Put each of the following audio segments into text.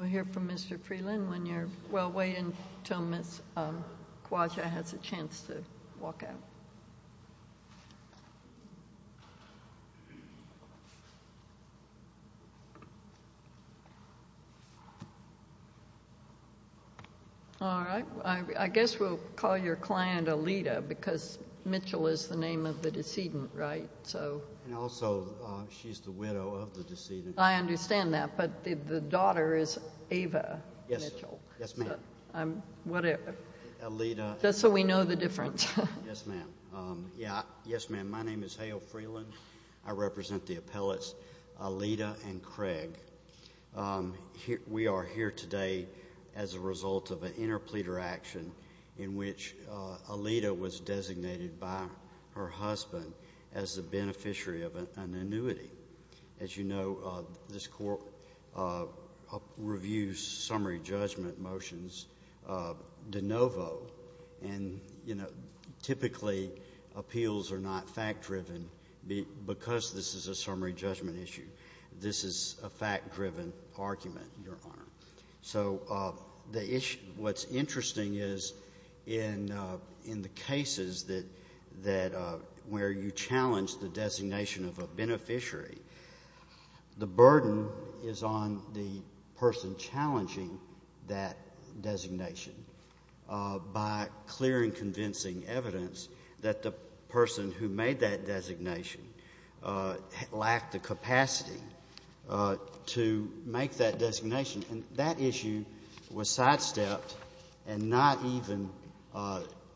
We'll hear from Mr. Freeland when you're, well, wait until Ms. Kwaja has a chance to walk out. All right. I guess we'll call your client Alita because Mitchell is the name of the decedent, right? And also, she's the widow of the decedent. I understand that, but the daughter is Ava Mitchell. Yes, ma'am. I'm, whatever. Alita. Just so we know the difference. Yes, ma'am. Yeah. Yes, ma'am. My name is Hale Freeland. I represent the appellates Alita and Craig. We are here today as a result of an interpleader action in which Alita was designated by her husband as the beneficiary of an annuity. As you know, this Court reviews summary judgment motions de novo, and, you know, typically appeals are not fact-driven because this is a summary judgment issue. This is a fact-driven argument, Your Honor. So, the issue, what's interesting is, in the cases that, where you challenge the designation of a beneficiary, the burden is on the person challenging that designation by clearing convincing evidence that the person who made that designation lacked the capacity to make that designation. And that issue was sidestepped and not even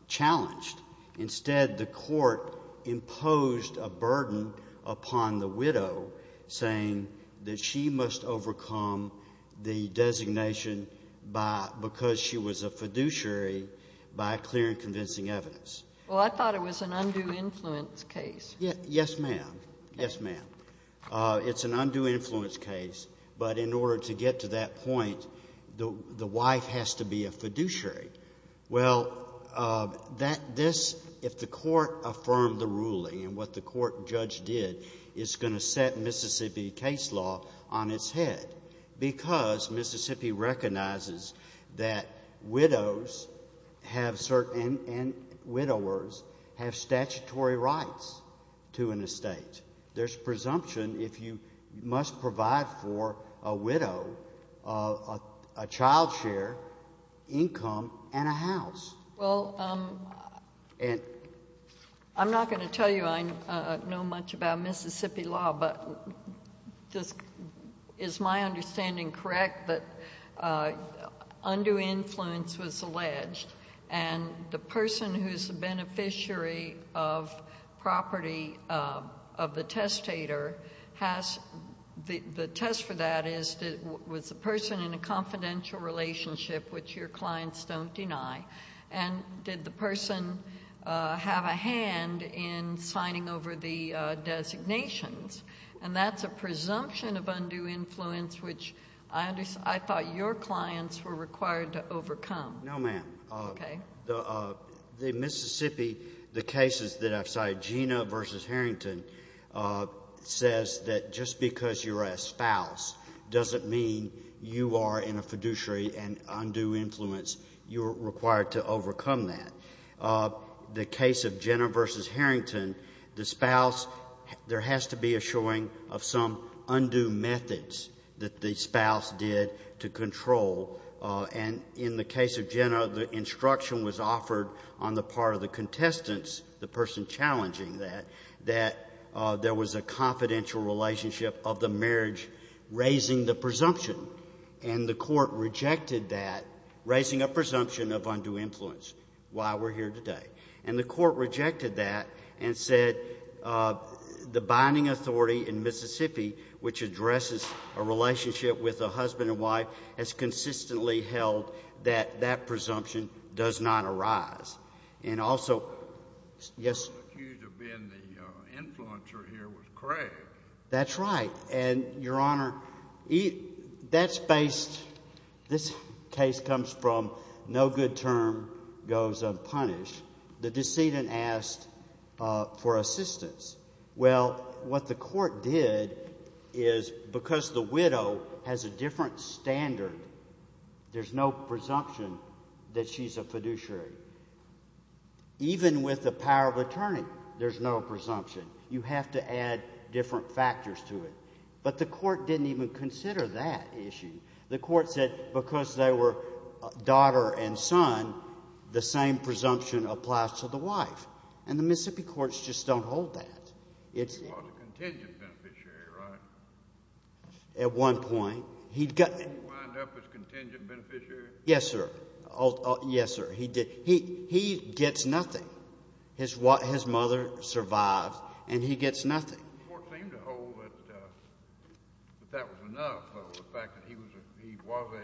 challenged. Instead, the Court imposed a burden upon the widow, saying that she must overcome the designation by, because she was a fiduciary, by clearing convincing evidence. Well, I thought it was an undue influence case. Yes, ma'am. Yes, ma'am. It's an undue influence case, but in order to get to that point, the wife has to be a fiduciary. Well, that this, if the Court affirmed the ruling and what the Court judge did, is going to set Mississippi case law on its head, because Mississippi recognizes that widows have certain, and widowers, have statutory rights to an estate. There's presumption if you must provide for a widow a child share, income, and a house. Well, I'm not going to tell you I know much about Mississippi law, but is my understanding correct that undue influence was alleged, and the person who's the beneficiary of property of the testator has, the test for that is, was the person in a confidential relationship, which your clients don't deny, and did the person have a hand in signing over the designations? And that's a presumption of undue influence, which I thought your clients were required to overcome. No, ma'am. Okay. The Mississippi, the cases that I've cited, Gina v. Harrington, says that just because you're a spouse doesn't mean you are in a fiduciary and undue influence, you're required to overcome that. The case of Gina v. Harrington, the spouse, there has to be a showing of some undue methods that the spouse did to control, and in the case of Gina, the instruction was offered on the part of the contestants, the person challenging that, that there was a confidential relationship of the marriage raising the presumption, and the Court rejected that, raising a presumption of undue influence, why we're here today. And the Court rejected that and said the binding authority in Mississippi, which addresses a relationship with a husband and wife, has consistently held that that presumption does not arise. And also, yes? The person accused of being the influencer here was Craig. That's right. And, Your Honor, that's based, this case comes from no good term goes unpunished. The decedent asked for assistance. Well, what the Court did is, because the widow has a different standard, there's no presumption that she's a fiduciary. Even with the power of attorney, there's no presumption. You have to add different factors to it. But the Court didn't even consider that issue. The Court said because they were daughter and son, the same presumption applies to the wife. And the Mississippi courts just don't hold that. He was a contingent beneficiary, right? At one point. He'd got... He wound up as contingent beneficiary? Yes, sir. Yes, sir. He did. He gets nothing. His mother survived, and he gets nothing. The Court seemed to hold that that was enough, though, the fact that he was a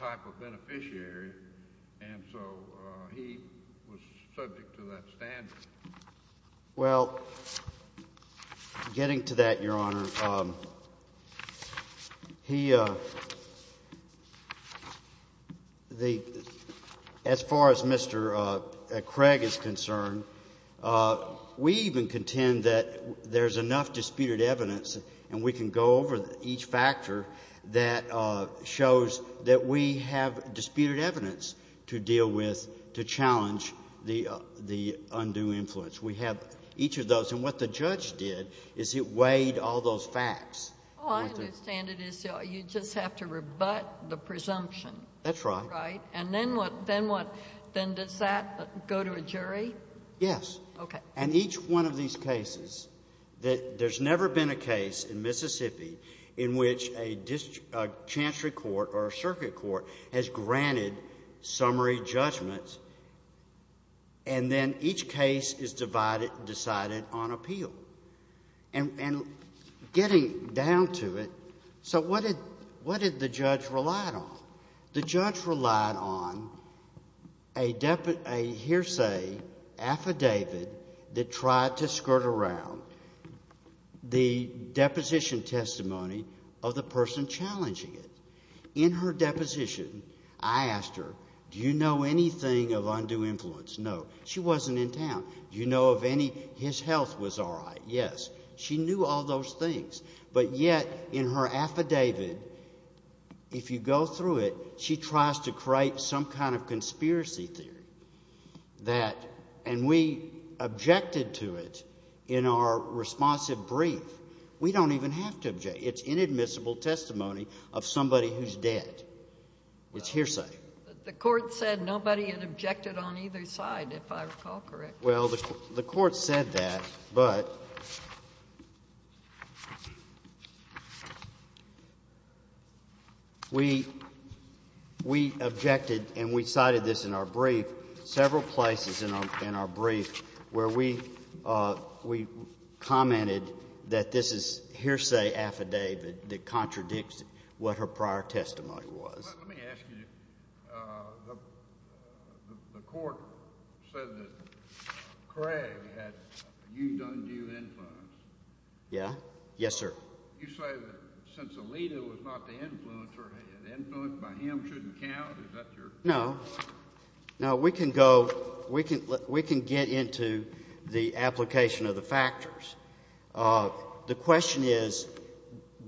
type of beneficiary. And so he was subject to that standard. Well, getting to that, Your Honor, he... The... As far as Mr. Craig is concerned, we even contend that there's enough disputed evidence, and we can go over each factor that shows that we have disputed evidence to deal with to challenge the undue influence. We have each of those. And what the judge did is he weighed all those facts. Well, I understand it is you just have to rebut the presumption. That's right. Right. And then what? Then what? Then does that go to a jury? Yes. Okay. And each one of these cases, there's never been a case in Mississippi in which a chancery court or a circuit court has granted summary judgments, and then each case is decided on appeal. And getting down to it, so what did the judge relied on? The judge relied on a hearsay affidavit that tried to skirt around the deposition testimony of the person challenging it. In her deposition, I asked her, do you know anything of undue influence? No. She wasn't in town. Do you know of any, his health was all right? Yes. She knew all those things, but yet in her affidavit, if you go through it, she tries to create some kind of conspiracy theory that, and we objected to it in our responsive brief. We don't even have to object. It's inadmissible testimony of somebody who's dead. It's hearsay. The court said nobody had objected on either side, if I recall correctly. Well, the court said that, but we objected, and we cited this in our brief, several places in our brief where we commented that this is hearsay affidavit that contradicts what her prior testimony was. Let me ask you, the court said that Craig had undue influence. Yeah. Yes, sir. You say that since Alita was not the influencer, an influence by him shouldn't count? Is that your... No. No, we can go, we can get into the application of the factors. The question is,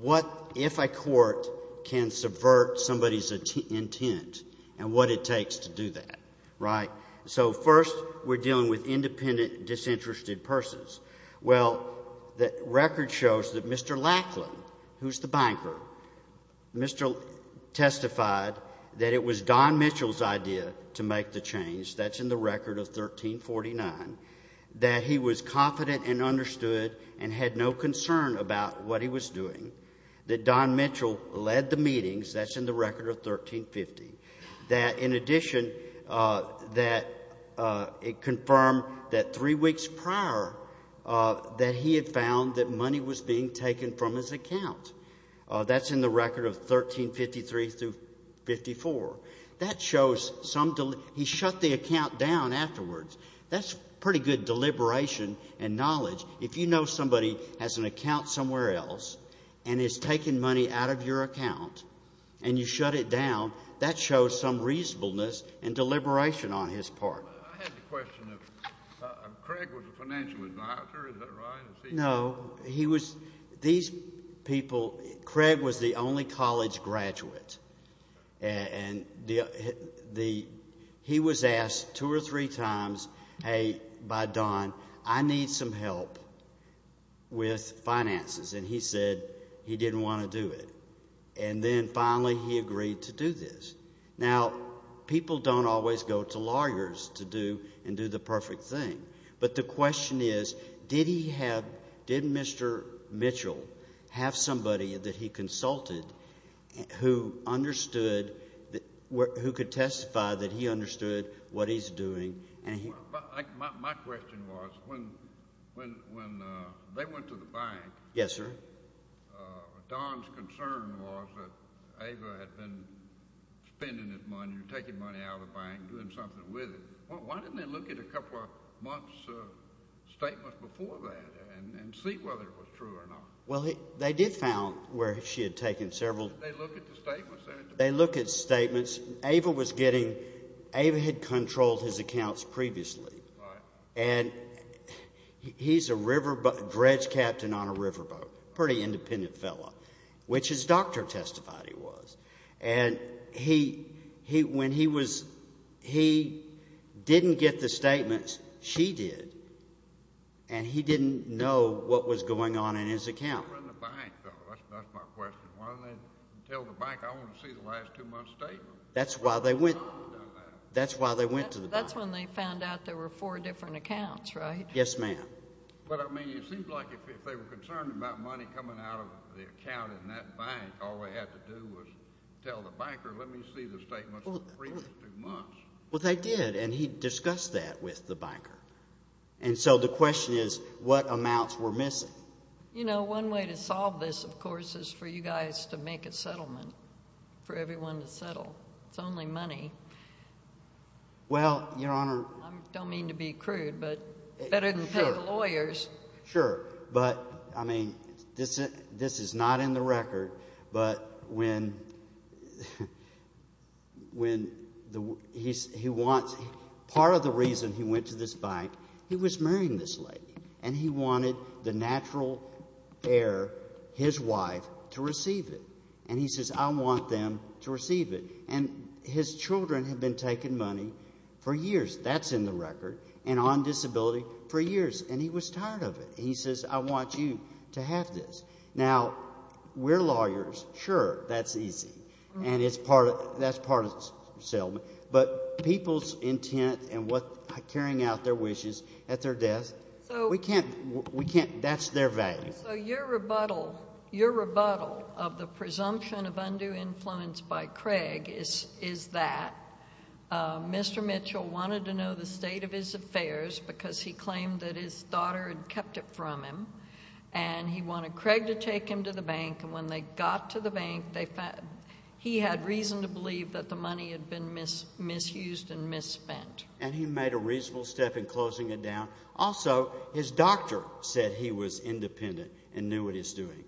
what, if a court can subvert somebody's intent and what it takes to do that, right? So first, we're dealing with independent, disinterested persons. Well, the record shows that Mr. Lackland, who's the banker, Mr. testified that it was Don Mitchell's idea to make the change, that's in the record of 1349, that he was confident and understood and had no concern about what he was doing, that Don Mitchell led the meetings, that's in the record of 1350, that in addition, that it confirmed that three weeks prior, that he had found that money was being taken from his account. That's in the record of 1353 through 54. That shows some, he shut the account down afterwards. That's pretty good deliberation and knowledge. If you know somebody has an account somewhere else and is taking money out of your account and you shut it down, that shows some reasonableness and deliberation on his part. I have a question of, Craig was a financial advisor, is that right? No, he was, these people, Craig was the only college graduate and he was asked two or three times, hey, by Don, I need some help with finances, and he said he didn't want to do it. And then finally he agreed to do this. Now, people don't always go to lawyers to do and do the perfect thing, but the question is, did he have, did Mr. Mitchell have somebody that he consulted who understood, who could testify that he understood what he's doing? My question was, when they went to the bank, Don's concern was that Ava had been spending his money or taking money out of the bank and doing something with it. Why didn't they look at a couple of months' statements before that and see whether it was true or not? Well, they did found where she had taken several. They looked at the statements. They looked at statements. Ava was getting, Ava had controlled his accounts previously. Right. And he's a riverboat, dredge captain on a riverboat, pretty independent fellow, which his doctor testified he was. And he, when he was, he didn't get the statements, she did, and he didn't know what was going on in his account. That's my question. Why didn't they tell the bank, I want to see the last two months' statements? That's why they went, that's why they went to the bank. That's when they found out there were four different accounts, right? Yes, ma'am. But, I mean, it seemed like if they were concerned about money coming out of the account in that bank, all they had to do was tell the banker, let me see the statements from the previous two months. Well, they did, and he discussed that with the banker. And so the question is, what amounts were missing? You know, one way to solve this, of course, is for you guys to make a settlement, for everyone to settle. It's only money. Well, Your Honor. I don't mean to be crude, but better than pay the lawyers. Sure. But, I mean, this is not in the record, but when, when the, he wants, part of the reason he went to this bank, he was marrying this lady. And he wanted the natural heir, his wife, to receive it. And he says, I want them to receive it. And his children have been taking money for years. That's in the record. And on disability for years. And he was tired of it. He says, I want you to have this. Now, we're lawyers. Sure, that's easy. And it's part of, that's part of the settlement. But people's intent and what, carrying out their wishes at their desk, we can't, we can't, that's their value. So your rebuttal, your rebuttal of the presumption of undue influence by Craig is, is that Mr. Mitchell wanted to know the state of his affairs because he claimed that his daughter had kept it from him. And he wanted Craig to take him to the bank. And when they got to the bank, they found, he had reason to believe that the money had been misused and misspent. And he made a reasonable step in closing it down. Also, his doctor said he was independent and knew what he was doing.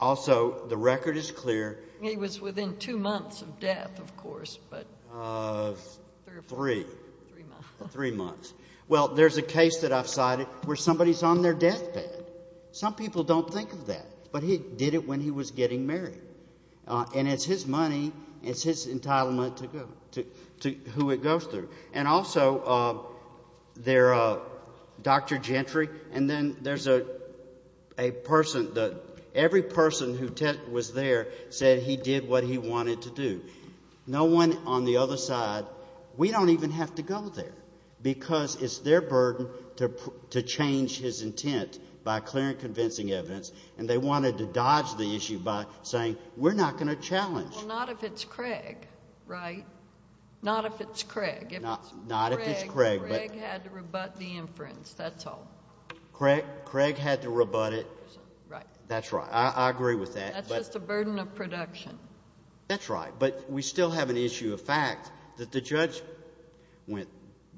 Also, the record is clear. He was within two months of death, of course. Of three. Three months. Three months. Well, there's a case that I've cited where somebody's on their deathbed. Some people don't think of that. But he did it when he was getting married. And it's his money, it's his entitlement to go, to who it goes through. And also, their Dr. Gentry, and then there's a person that every person who was there said he did what he wanted to do. No one on the other side, we don't even have to go there because it's their burden to change his intent by clear and convincing evidence. And they wanted to dodge the issue by saying, we're not going to challenge. Well, not if it's Craig, right? Not if it's Craig. Not if it's Craig. Craig had to rebut the inference. That's all. Craig had to rebut it. Right. That's right. I agree with that. That's just a burden of production. That's right. But we still have an issue of fact that the judge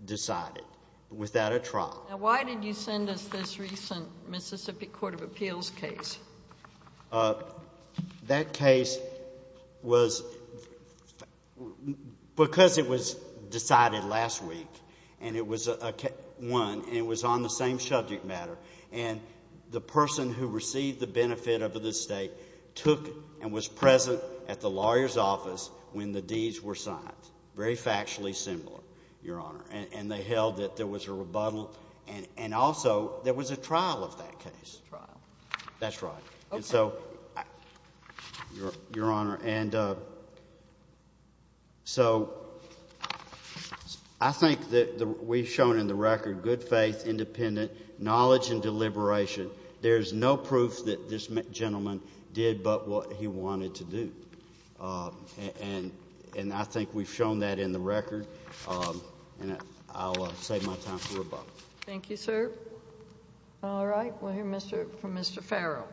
decided without a trial. Now, why did you send us this recent Mississippi Court of Appeals case? That case was because it was decided last week, and it was won, and it was on the same subject matter. And the person who received the benefit of the estate took and was present at the lawyer's office when the deeds were signed. Very factually similar, Your Honor. And they held that there was a rebuttal, and also there was a trial of that case. Trial. That's right. And so, Your Honor, and so I think that we've shown in the record good faith, independent, knowledge, and deliberation. There's no proof that this gentleman did but what he wanted to do. And I think we've shown that in the record, and I'll save my time for rebuttal. Thank you, sir. All right. We'll hear from Mr. Farrell.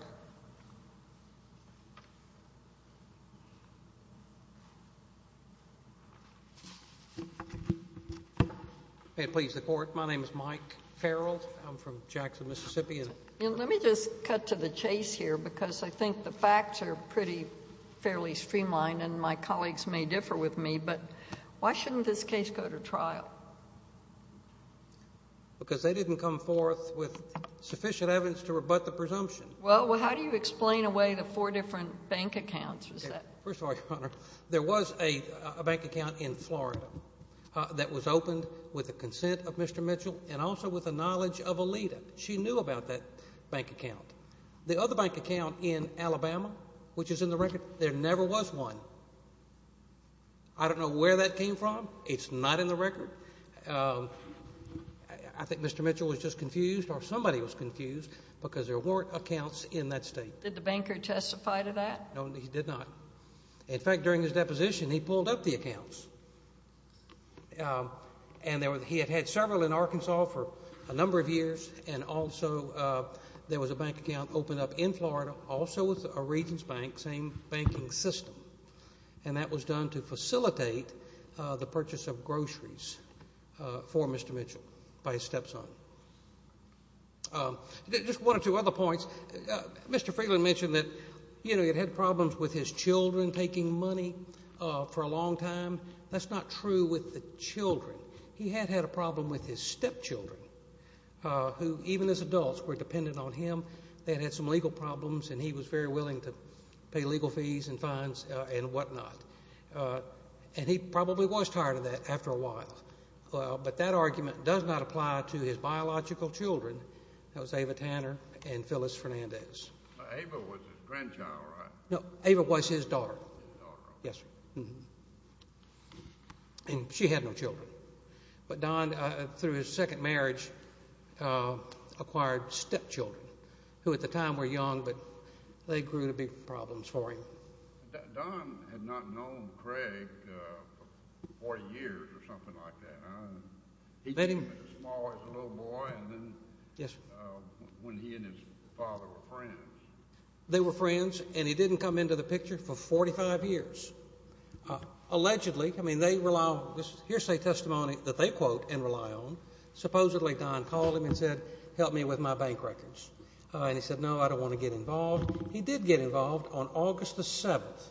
May it please the Court. My name is Mike Farrell. I'm from Jackson, Mississippi. Let me just cut to the chase here because I think the facts are pretty fairly streamlined, and my colleagues may differ with me, but why shouldn't this case go to trial? Because they didn't come forth with sufficient evidence to rebut the presumption. Well, how do you explain away the four different bank accounts? First of all, Your Honor, there was a bank account in Florida that was opened with the consent of Mr. Mitchell and also with the knowledge of Alita. She knew about that bank account. The other bank account in Alabama, which is in the record, there never was one. I don't know where that came from. It's not in the record. I think Mr. Mitchell was just confused or somebody was confused because there weren't accounts in that state. Did the banker testify to that? No, he did not. In fact, during his deposition, he pulled up the accounts. And he had had several in Arkansas for a number of years, and also there was a bank account opened up in Florida also with a Regents Bank, same banking system, and that was done to facilitate the purchase of groceries for Mr. Mitchell by his stepson. Just one or two other points. Mr. Freeland mentioned that, you know, he had had problems with his children taking money for a long time. That's not true with the children. He had had a problem with his stepchildren, who even as adults were dependent on him. They had had some legal problems, and he was very willing to pay legal fees and fines and whatnot. And he probably was tired of that after a while. But that argument does not apply to his biological children, that was Ava Tanner and Phyllis Fernandez. Ava was his grandchild, right? No, Ava was his daughter. His daughter. Yes, sir. And she had no children. But Don, through his second marriage, acquired stepchildren, who at the time were young, but they grew to be problems for him. Don had not known Craig for 40 years or something like that. He came as small as a little boy, and then when he and his father were friends. They were friends, and he didn't come into the picture for 45 years. Allegedly, I mean, they rely on this hearsay testimony that they quote and rely on. Supposedly, Don called him and said, help me with my bank records. And he said, no, I don't want to get involved. He did get involved on August the 7th.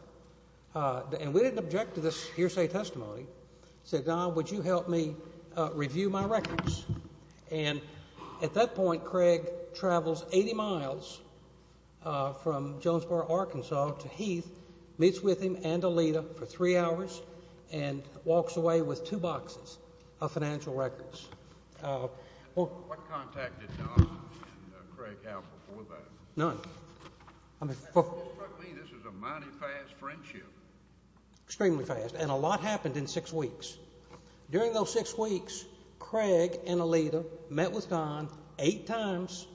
And we didn't object to this hearsay testimony. We said, Don, would you help me review my records? And at that point, Craig travels 80 miles from Jonesboro, Arkansas, to Heath, meets with him and Alita for three hours, and walks away with two boxes of financial records. What contact did Don and Craig have before that? None. This is a mighty fast friendship. Extremely fast, and a lot happened in six weeks. During those six weeks, Craig and Alita met with Don eight times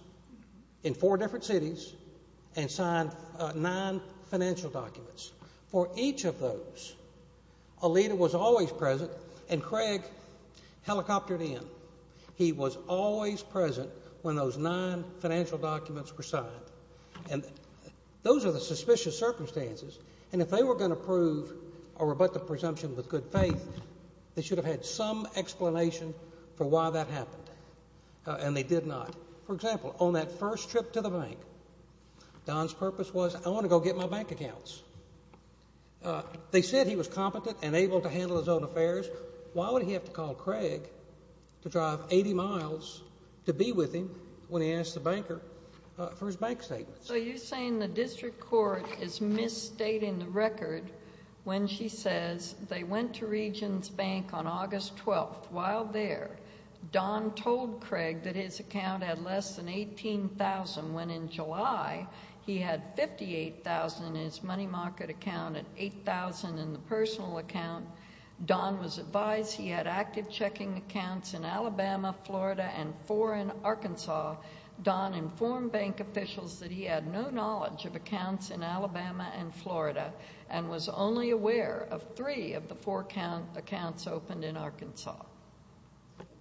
in four different cities and signed nine financial documents. For each of those, Alita was always present, and Craig helicoptered in. He was always present when those nine financial documents were signed. And those are the suspicious circumstances. And if they were going to prove a rebuttal presumption with good faith, they should have had some explanation for why that happened. And they did not. For example, on that first trip to the bank, Don's purpose was, I want to go get my bank accounts. They said he was competent and able to handle his own affairs. Why would he have to call Craig to drive 80 miles to be with him when he asked the banker for his bank statements? So you're saying the district court is misstating the record when she says they went to Regions Bank on August 12th. While there, Don told Craig that his account had less than $18,000 when, in July, he had $58,000 in his money market account and $8,000 in the personal account. Don was advised he had active checking accounts in Alabama, Florida, and four in Arkansas. Don informed bank officials that he had no knowledge of accounts in Alabama and Florida and was only aware of three of the four accounts opened in Arkansas.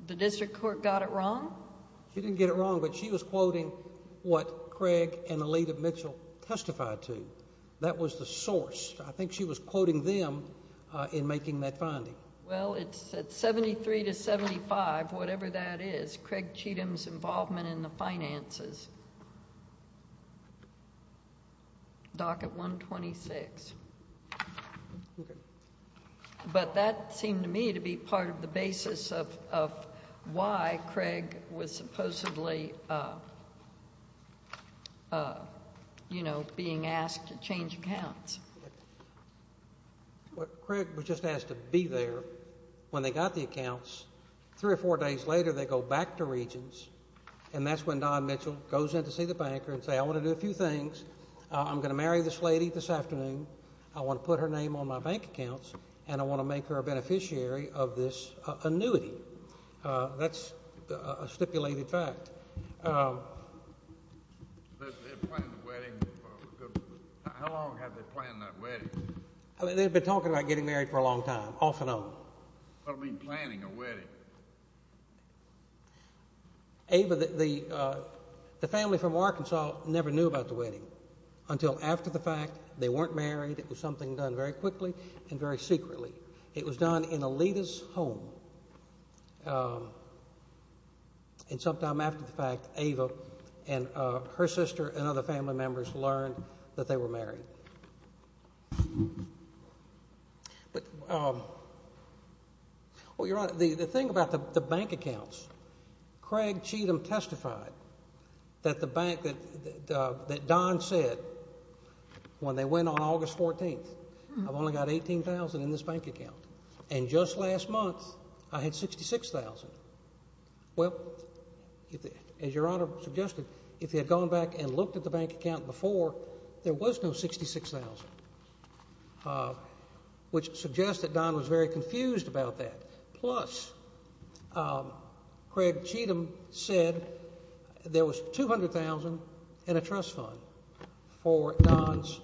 The district court got it wrong? She didn't get it wrong, but she was quoting what Craig and Alita Mitchell testified to. That was the source. I think she was quoting them in making that finding. Well, it's at 73 to 75, whatever that is, Craig Cheatham's involvement in the finances. Docket 126. Okay. But that seemed to me to be part of the basis of why Craig was supposedly, you know, being asked to change accounts. Craig was just asked to be there when they got the accounts. Three or four days later, they go back to Regions, and that's when Don Mitchell goes in to see the banker and says, Okay, I want to do a few things. I'm going to marry this lady this afternoon. I want to put her name on my bank accounts, and I want to make her a beneficiary of this annuity. That's a stipulated fact. They're planning a wedding. How long have they planned that wedding? They've been talking about getting married for a long time, off and on. What do you mean planning a wedding? Ava, the family from Arkansas never knew about the wedding until after the fact. They weren't married. It was something done very quickly and very secretly. It was done in Alita's home, and sometime after the fact, Ava and her sister and other family members learned that they were married. But, well, Your Honor, the thing about the bank accounts, Craig Cheatham testified that the bank that Don said when they went on August 14th, I've only got $18,000 in this bank account, and just last month I had $66,000. Well, as Your Honor suggested, if he had gone back and looked at the bank account before, there was no $66,000, which suggests that Don was very confused about that. Plus, Craig Cheatham said there was $200,000 in a trust fund for Don's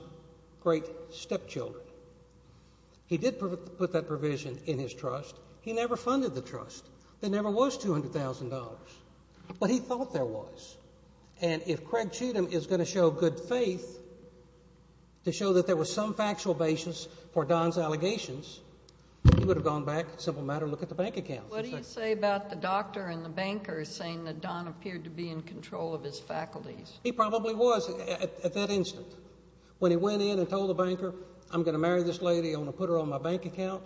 great stepchildren. He did put that provision in his trust. He never funded the trust. There never was $200,000, but he thought there was. And if Craig Cheatham is going to show good faith to show that there was some factual basis for Don's allegations, he would have gone back, simple matter, and looked at the bank account. What do you say about the doctor and the banker saying that Don appeared to be in control of his faculties? He probably was at that instant. When he went in and told the banker, I'm going to marry this lady, I'm going to put her on my bank account,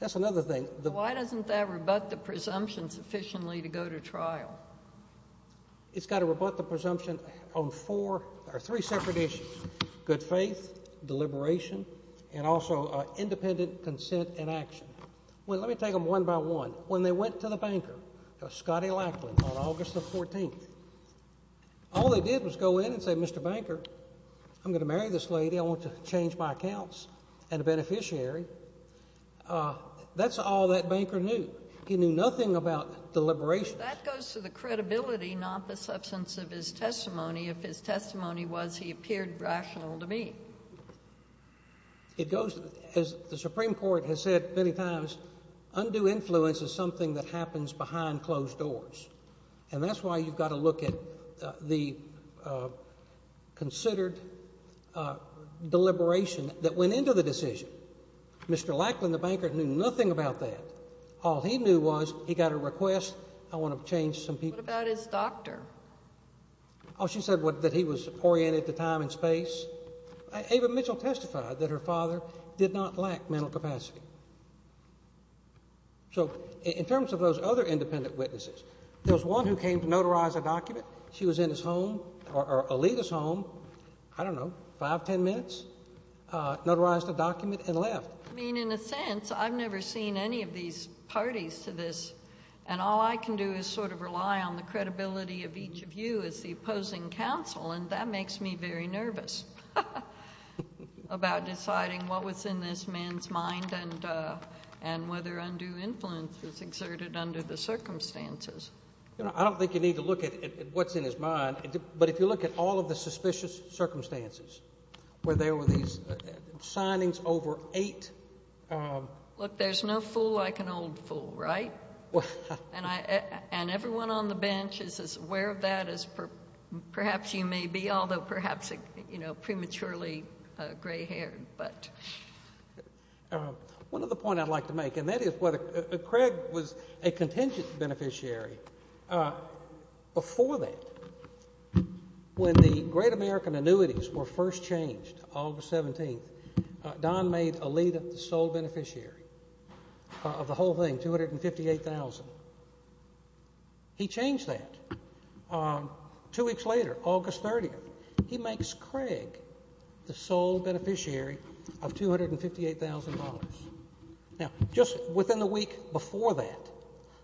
that's another thing. Why doesn't that rebut the presumption sufficiently to go to trial? It's got to rebut the presumption on three separate issues, good faith, deliberation, and also independent consent and action. Well, let me take them one by one. When they went to the banker, Scottie Lackland, on August 14th, all they did was go in and say, Mr. Banker, I'm going to marry this lady, I want to change my accounts, and a beneficiary. That's all that banker knew. He knew nothing about deliberation. That goes to the credibility, not the substance of his testimony. If his testimony was he appeared rational to me. It goes, as the Supreme Court has said many times, undue influence is something that happens behind closed doors. And that's why you've got to look at the considered deliberation that went into the decision. Mr. Lackland, the banker, knew nothing about that. All he knew was he got a request, I want to change some people's accounts. What about his doctor? Oh, she said that he was oriented to time and space. Ava Mitchell testified that her father did not lack mental capacity. So in terms of those other independent witnesses, there was one who came to notarize a document. She was in his home, or Alita's home, I don't know, five, ten minutes, notarized a document and left. I mean, in a sense, I've never seen any of these parties to this, and all I can do is sort of rely on the credibility of each of you as the opposing counsel, and that makes me very nervous about deciding what was in this man's mind and whether undue influence was exerted under the circumstances. I don't think you need to look at what's in his mind, but if you look at all of the suspicious circumstances where there were these signings over eight. Look, there's no fool like an old fool, right? And everyone on the bench is as aware of that as perhaps you may be, although perhaps prematurely gray-haired. One other point I'd like to make, and that is whether Craig was a contingent beneficiary. Before that, when the Great American annuities were first changed, August 17th, Don made Alita the sole beneficiary of the whole thing, $258,000. He changed that. Two weeks later, August 30th, he makes Craig the sole beneficiary of $258,000. Now, just within the week before that,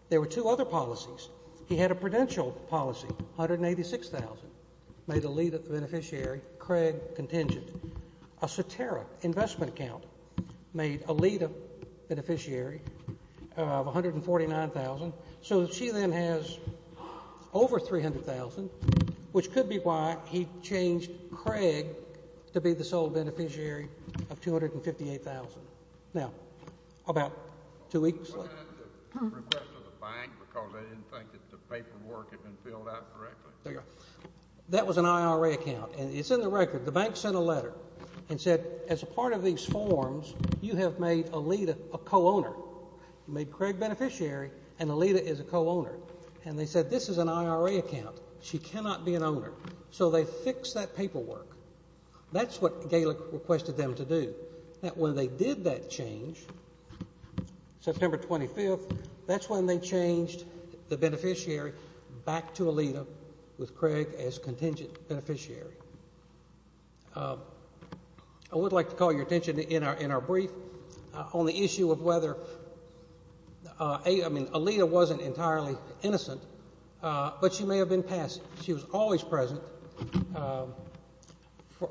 there were two other policies. He had a prudential policy, $186,000, made Alita the beneficiary, Craig contingent. A satiric investment account made Alita the beneficiary of $149,000. So she then has over $300,000, which could be why he changed Craig to be the sole beneficiary of $258,000. Now, about two weeks later. Was that at the request of the bank because they didn't think that the paperwork had been filled out correctly? That was an IRA account, and it's in the record. The bank sent a letter and said, as a part of these forms, you have made Alita a co-owner. You made Craig beneficiary, and Alita is a co-owner. And they said, this is an IRA account. She cannot be an owner. So they fixed that paperwork. That's what Gaelic requested them to do. Now, when they did that change, September 25th, that's when they changed the beneficiary back to Alita with Craig as contingent beneficiary. I would like to call your attention in our brief on the issue of whether, I mean, Alita wasn't entirely innocent, but she may have been passive. She was always present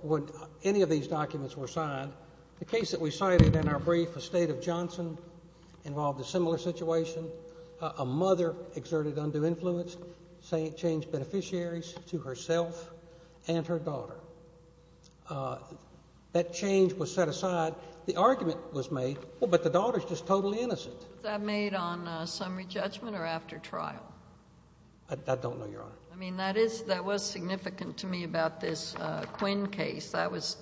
when any of these documents were signed. The case that we cited in our brief, the State of Johnson, involved a similar situation. A mother exerted undue influence, changed beneficiaries to herself and her daughter. That change was set aside. The argument was made, well, but the daughter is just totally innocent. Was that made on summary judgment or after trial? I don't know, Your Honor. I mean, that was significant to me about this Quinn case.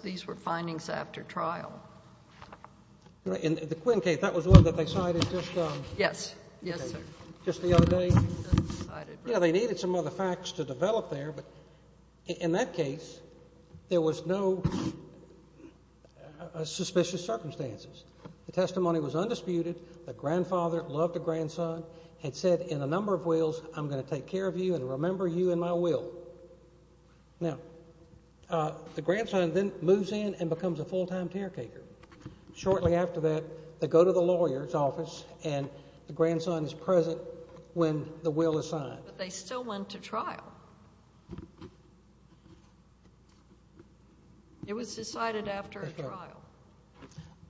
These were findings after trial. In the Quinn case, that was one that they cited just the other day? Yes, yes, sir. Yeah, they needed some other facts to develop there. But in that case, there was no suspicious circumstances. The testimony was undisputed. The grandfather loved the grandson and said in a number of wills, I'm going to take care of you and remember you in my will. Now, the grandson then moves in and becomes a full-time caretaker. Shortly after that, they go to the lawyer's office, and the grandson is present when the will is signed. But they still went to trial. It was decided after trial.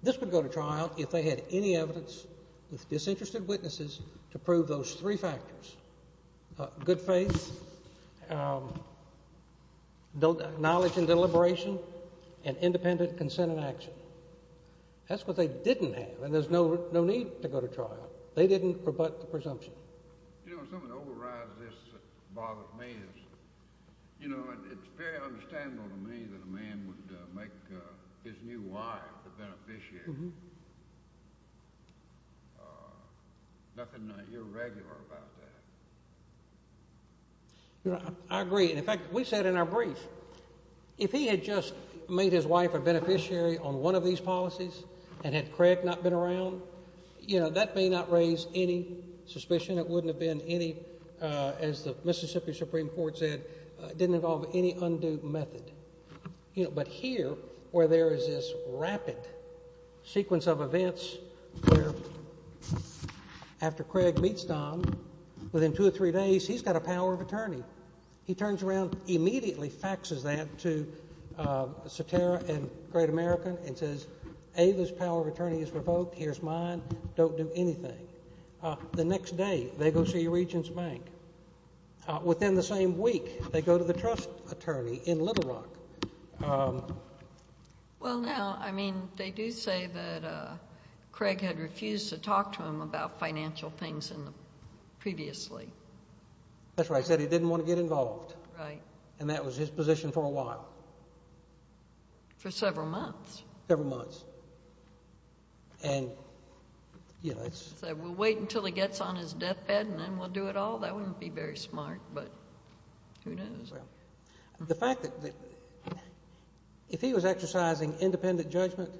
This would go to trial if they had any evidence with disinterested witnesses to prove those three factors, good faith, knowledge and deliberation, and independent consent and action. That's what they didn't have, and there's no need to go to trial. They didn't rebut the presumption. You know, something that overrides this that bothers me is, you know, it's very understandable to me that a man would make his new wife the beneficiary. Nothing irregular about that. I agree. In fact, we said in our brief, if he had just made his wife a beneficiary on one of these policies and had Craig not been around, you know, that may not raise any suspicion. It wouldn't have been any, as the Mississippi Supreme Court said, didn't involve any undue method. But here, where there is this rapid sequence of events where after Craig meets Don, within two or three days, he's got a power of attorney. He turns around, immediately faxes that to Satara and Great American and says, Ava's power of attorney is revoked, here's mine, don't do anything. The next day, they go see Regents Bank. Within the same week, they go to the trust attorney in Little Rock. Well, now, I mean, they do say that Craig had refused to talk to him about financial things previously. That's right. He said he didn't want to get involved. Right. And that was his position for a while. For several months. Several months. And, you know, it's... He said, we'll wait until he gets on his deathbed and then we'll do it all. That wouldn't be very smart, but who knows. Well, the fact that if he was exercising independent judgment,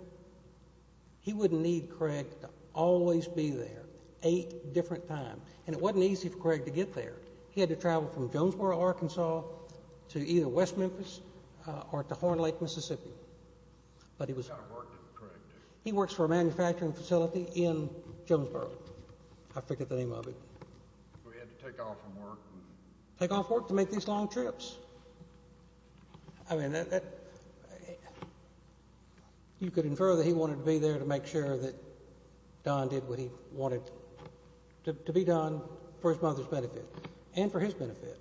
he wouldn't need Craig to always be there eight different times. And it wasn't easy for Craig to get there. He had to travel from Jonesboro, Arkansas, to either West Memphis or to Horn Lake, Mississippi. But he was... He worked for a manufacturing facility in Jonesboro. I forget the name of it. He had to take off from work. Take off work to make these long trips. I mean, you could infer that he wanted to be there to make sure that Don did what he wanted to be done for his mother's benefit and for his benefit.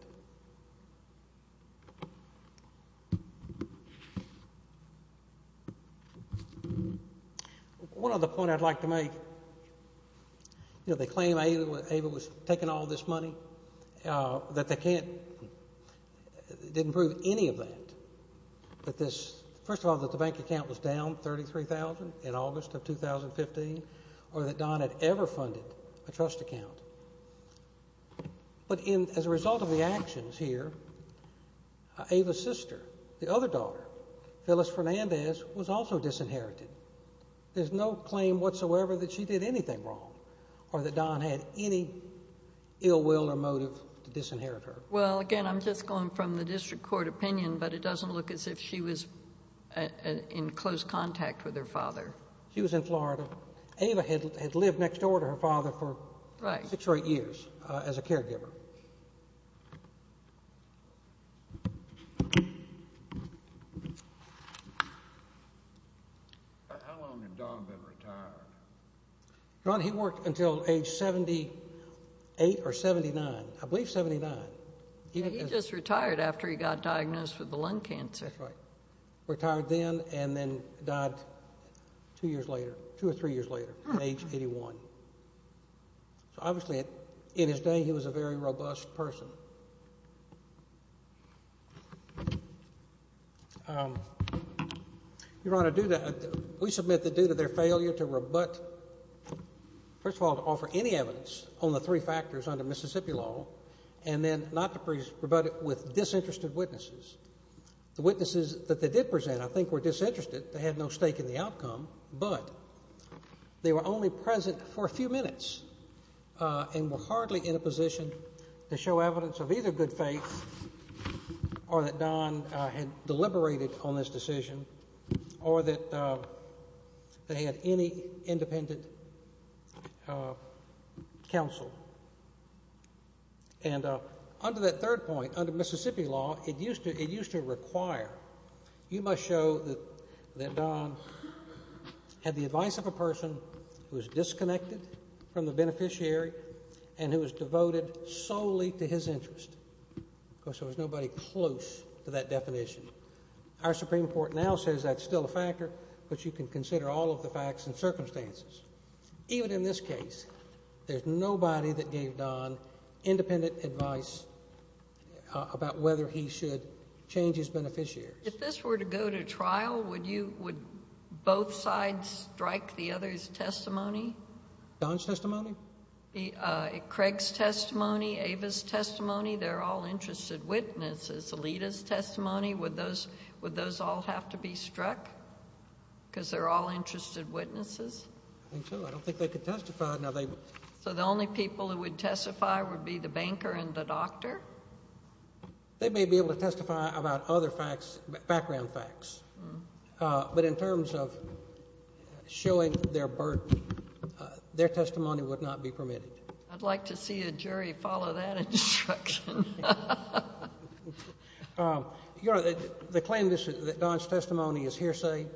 One other point I'd like to make. You know, they claim Ava was taking all this money. That they can't... Didn't prove any of that. But this... First of all, that the bank account was down $33,000 in August of 2015. Or that Don had ever funded a trust account. But as a result of the actions here, Ava's sister, the other daughter, Phyllis Fernandez, was also disinherited. There's no claim whatsoever that she did anything wrong or that Don had any ill will or motive to disinherit her. Well, again, I'm just going from the district court opinion, but it doesn't look as if she was in close contact with her father. She was in Florida. Ava had lived next door to her father for six or eight years as a caregiver. How long had Don been retired? Don, he worked until age 78 or 79. I believe 79. He just retired after he got diagnosed with the lung cancer. That's right. Retired then and then died two years later, two or three years later at age 81. So, obviously, in his day, he was a very robust person. Your Honor, we submit the due to their failure to rebut, first of all, to offer any evidence on the three factors under Mississippi law, and then not to rebut it with disinterested witnesses. The witnesses that they did present, I think, were disinterested. They had no stake in the outcome, but they were only present for a few minutes and were hardly in a position to show evidence of either good faith or that Don had deliberated on this decision or that they had any independent counsel. And under that third point, under Mississippi law, it used to require, you must show that Don had the advice of a person who was disconnected from the beneficiary and who was devoted solely to his interest. Of course, there was nobody close to that definition. Our Supreme Court now says that's still a factor, but you can consider all of the facts and circumstances. Even in this case, there's nobody that gave Don independent advice about whether he should change his beneficiaries. If this were to go to trial, would both sides strike the other's testimony? Don's testimony? Craig's testimony, Ava's testimony? Alita's testimony? Would those all have to be struck because they're all interested witnesses? I think so. I don't think they could testify. So the only people who would testify would be the banker and the doctor? They may be able to testify about other facts, background facts, but in terms of showing their burden, their testimony would not be permitted. I'd like to see a jury follow that instruction. You know, they claim that Don's testimony is hearsay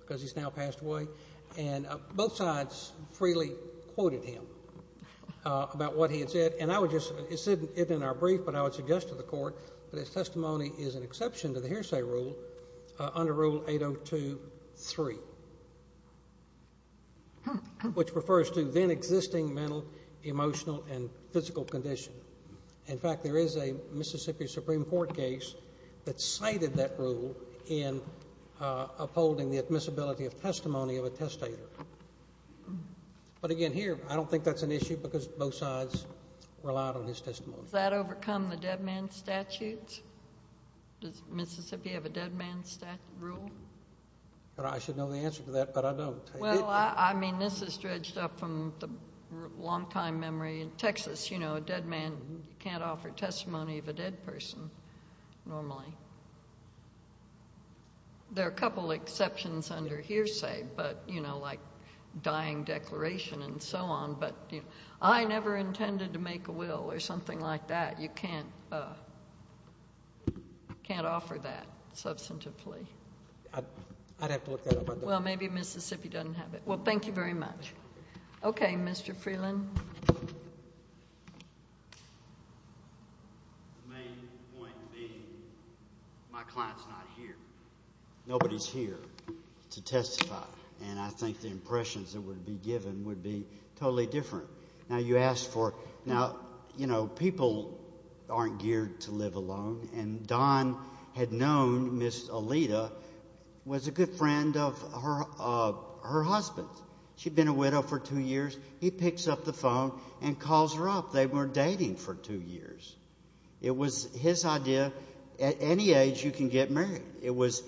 because he's now passed away, and both sides freely quoted him about what he had said. And I would just, it's in our brief, but I would suggest to the Court that his testimony is an exception to the hearsay rule under Rule 802.3, which refers to then existing mental, emotional, and physical condition. In fact, there is a Mississippi Supreme Court case that cited that rule in upholding the admissibility of testimony of a testator. But again, here, I don't think that's an issue because both sides relied on his testimony. Does that overcome the dead man statutes? Does Mississippi have a dead man rule? I should know the answer to that, but I don't. Well, I mean, this is dredged up from the longtime memory in Texas. You know, a dead man can't offer testimony of a dead person normally. There are a couple exceptions under hearsay, but, you know, like dying declaration and so on. But I never intended to make a will or something like that. You can't offer that substantively. I'd have to look that up. Well, maybe Mississippi doesn't have it. Well, thank you very much. Okay, Mr. Freeland. The main point being my client's not here. Nobody's here to testify, and I think the impressions that would be given would be totally different. Now, you asked for now, you know, people aren't geared to live alone, and Don had known Ms. Alita was a good friend of her husband. She'd been a widow for two years. He picks up the phone and calls her up. They were dating for two years. It was his idea at any age you can get married. It was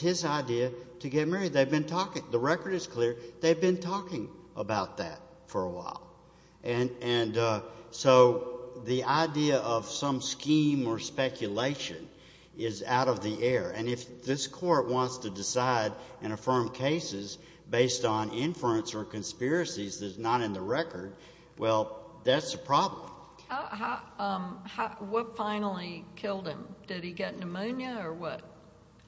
his idea to get married. They've been talking. The record is clear. They've been talking about that for a while. And so the idea of some scheme or speculation is out of the air, and if this court wants to decide and affirm cases based on inference or conspiracies that's not in the record, well, that's a problem. What finally killed him? Did he get pneumonia or what?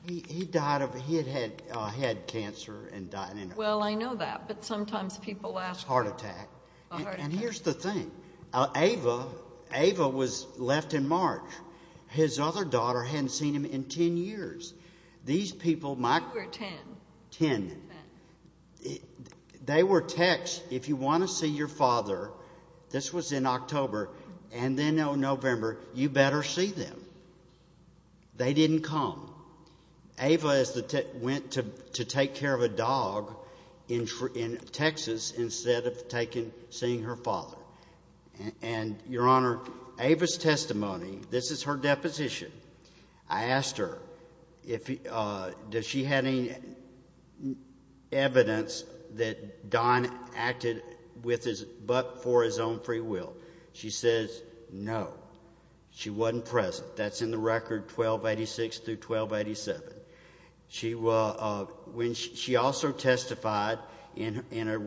He died of he had had cancer and died. Well, I know that, but sometimes people ask. A heart attack. A heart attack. And here's the thing. Ava was left in March. His other daughter hadn't seen him in ten years. These people might. You were ten. Ten. Ten. They were text, if you want to see your father, this was in October, and then in November, you better see them. They didn't come. Ava went to take care of a dog in Texas instead of seeing her father. And, Your Honor, Ava's testimony, this is her deposition. I asked her does she have any evidence that Don acted but for his own free will. She says no. She wasn't present. That's in the record 1286 through 1287. She also testified in a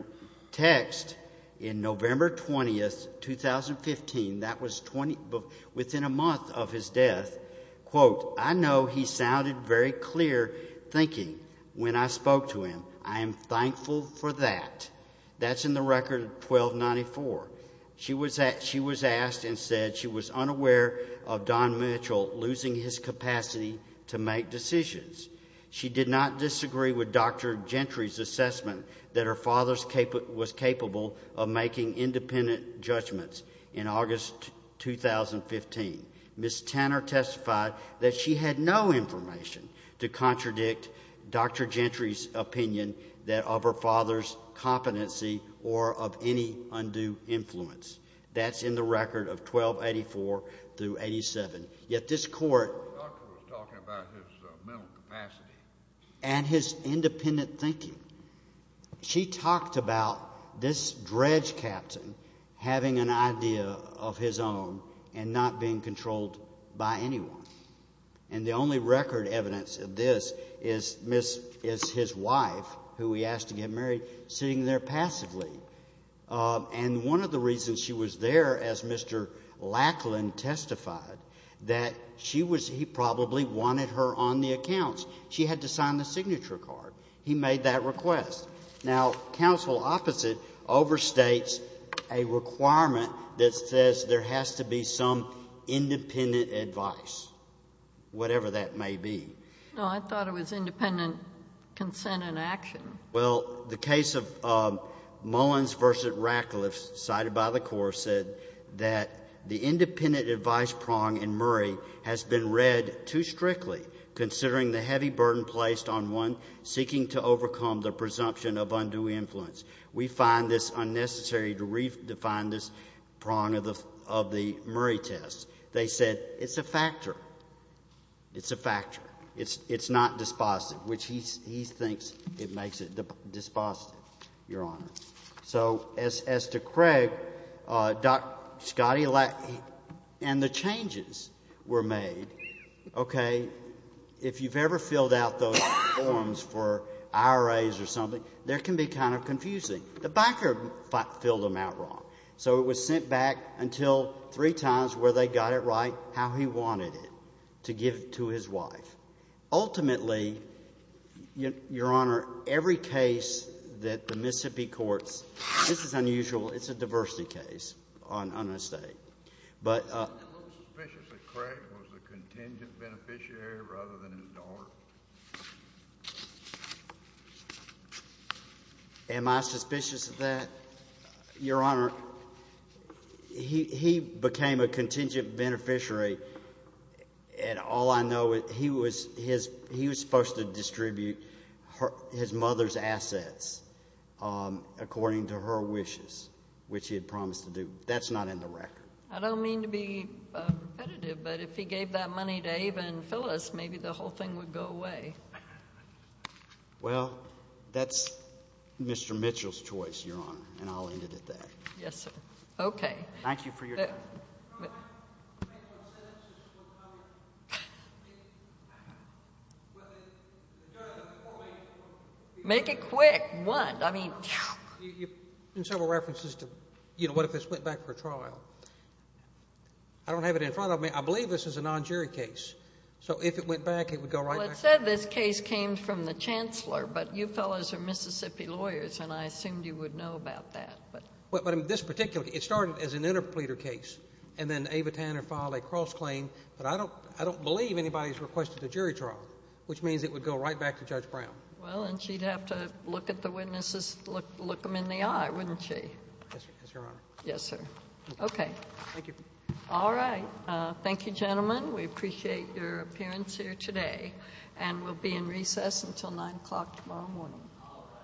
text in November 20, 2015, that was within a month of his death, quote, I know he sounded very clear thinking when I spoke to him. I am thankful for that. That's in the record 1294. She was asked and said she was unaware of Don Mitchell losing his capacity to make decisions. She did not disagree with Dr. Gentry's assessment that her father was capable of making independent judgments in August 2015. Ms. Tanner testified that she had no information to contradict Dr. Gentry's opinion of her father's competency or of any undue influence. That's in the record of 1284 through 87. Yet this court and his independent thinking, she talked about this dredge captain having an idea of his own and not being controlled by anyone. And the only record evidence of this is his wife, who he asked to get married, sitting there passively. And one of the reasons she was there as Mr. Lackland testified, that she was he probably wanted her on the accounts. She had to sign the signature card. He made that request. Now, counsel opposite overstates a requirement that says there has to be some independent advice, whatever that may be. No, I thought it was independent consent and action. Well, the case of Mullins v. Ratcliffe, cited by the court, said that the independent advice prong in Murray has been read too strictly, considering the heavy burden placed on one seeking to overcome the presumption of undue influence. We find this unnecessary to redefine this prong of the Murray test. They said it's a factor. It's a factor. It's not dispositive, which he thinks it makes it dispositive, Your Honor. So as to Craig, Dr. Scottie Lackland, and the changes were made. Okay. If you've ever filled out those forms for IRAs or something, there can be kind of confusing. The backer filled them out wrong. So it was sent back until three times where they got it right, how he wanted it, to give to his wife. Ultimately, Your Honor, every case that the Mississippi courts, this is unusual. It's a diversity case on an estate. Am I suspicious that Craig was a contingent beneficiary rather than his daughter? Am I suspicious of that, Your Honor? He became a contingent beneficiary, and all I know is he was supposed to distribute his mother's assets according to her wishes, which he had promised to do. That's not in the record. I don't mean to be repetitive, but if he gave that money to Ava and Phyllis, maybe the whole thing would go away. Well, that's Mr. Mitchell's choice, Your Honor, and I'll end it at that. Yes, sir. Okay. Thank you for your time. Make it quick. One. I mean, phew. In several references to, you know, what if this went back for trial? I don't have it in front of me. I believe this is a non-jury case. So if it went back, it would go right back. Well, it said this case came from the chancellor, but you fellows are Mississippi lawyers, and I assumed you would know about that. But this particular case, it started as an interpleader case, and then Ava Tanner filed a cross-claim, but I don't believe anybody's requested a jury trial, which means it would go right back to Judge Brown. Well, and she'd have to look at the witnesses, look them in the eye, wouldn't she? Yes, Your Honor. Yes, sir. Okay. Thank you. All right. Thank you, gentlemen. We appreciate your appearance here today, and we'll be in recess until 9 o'clock tomorrow morning.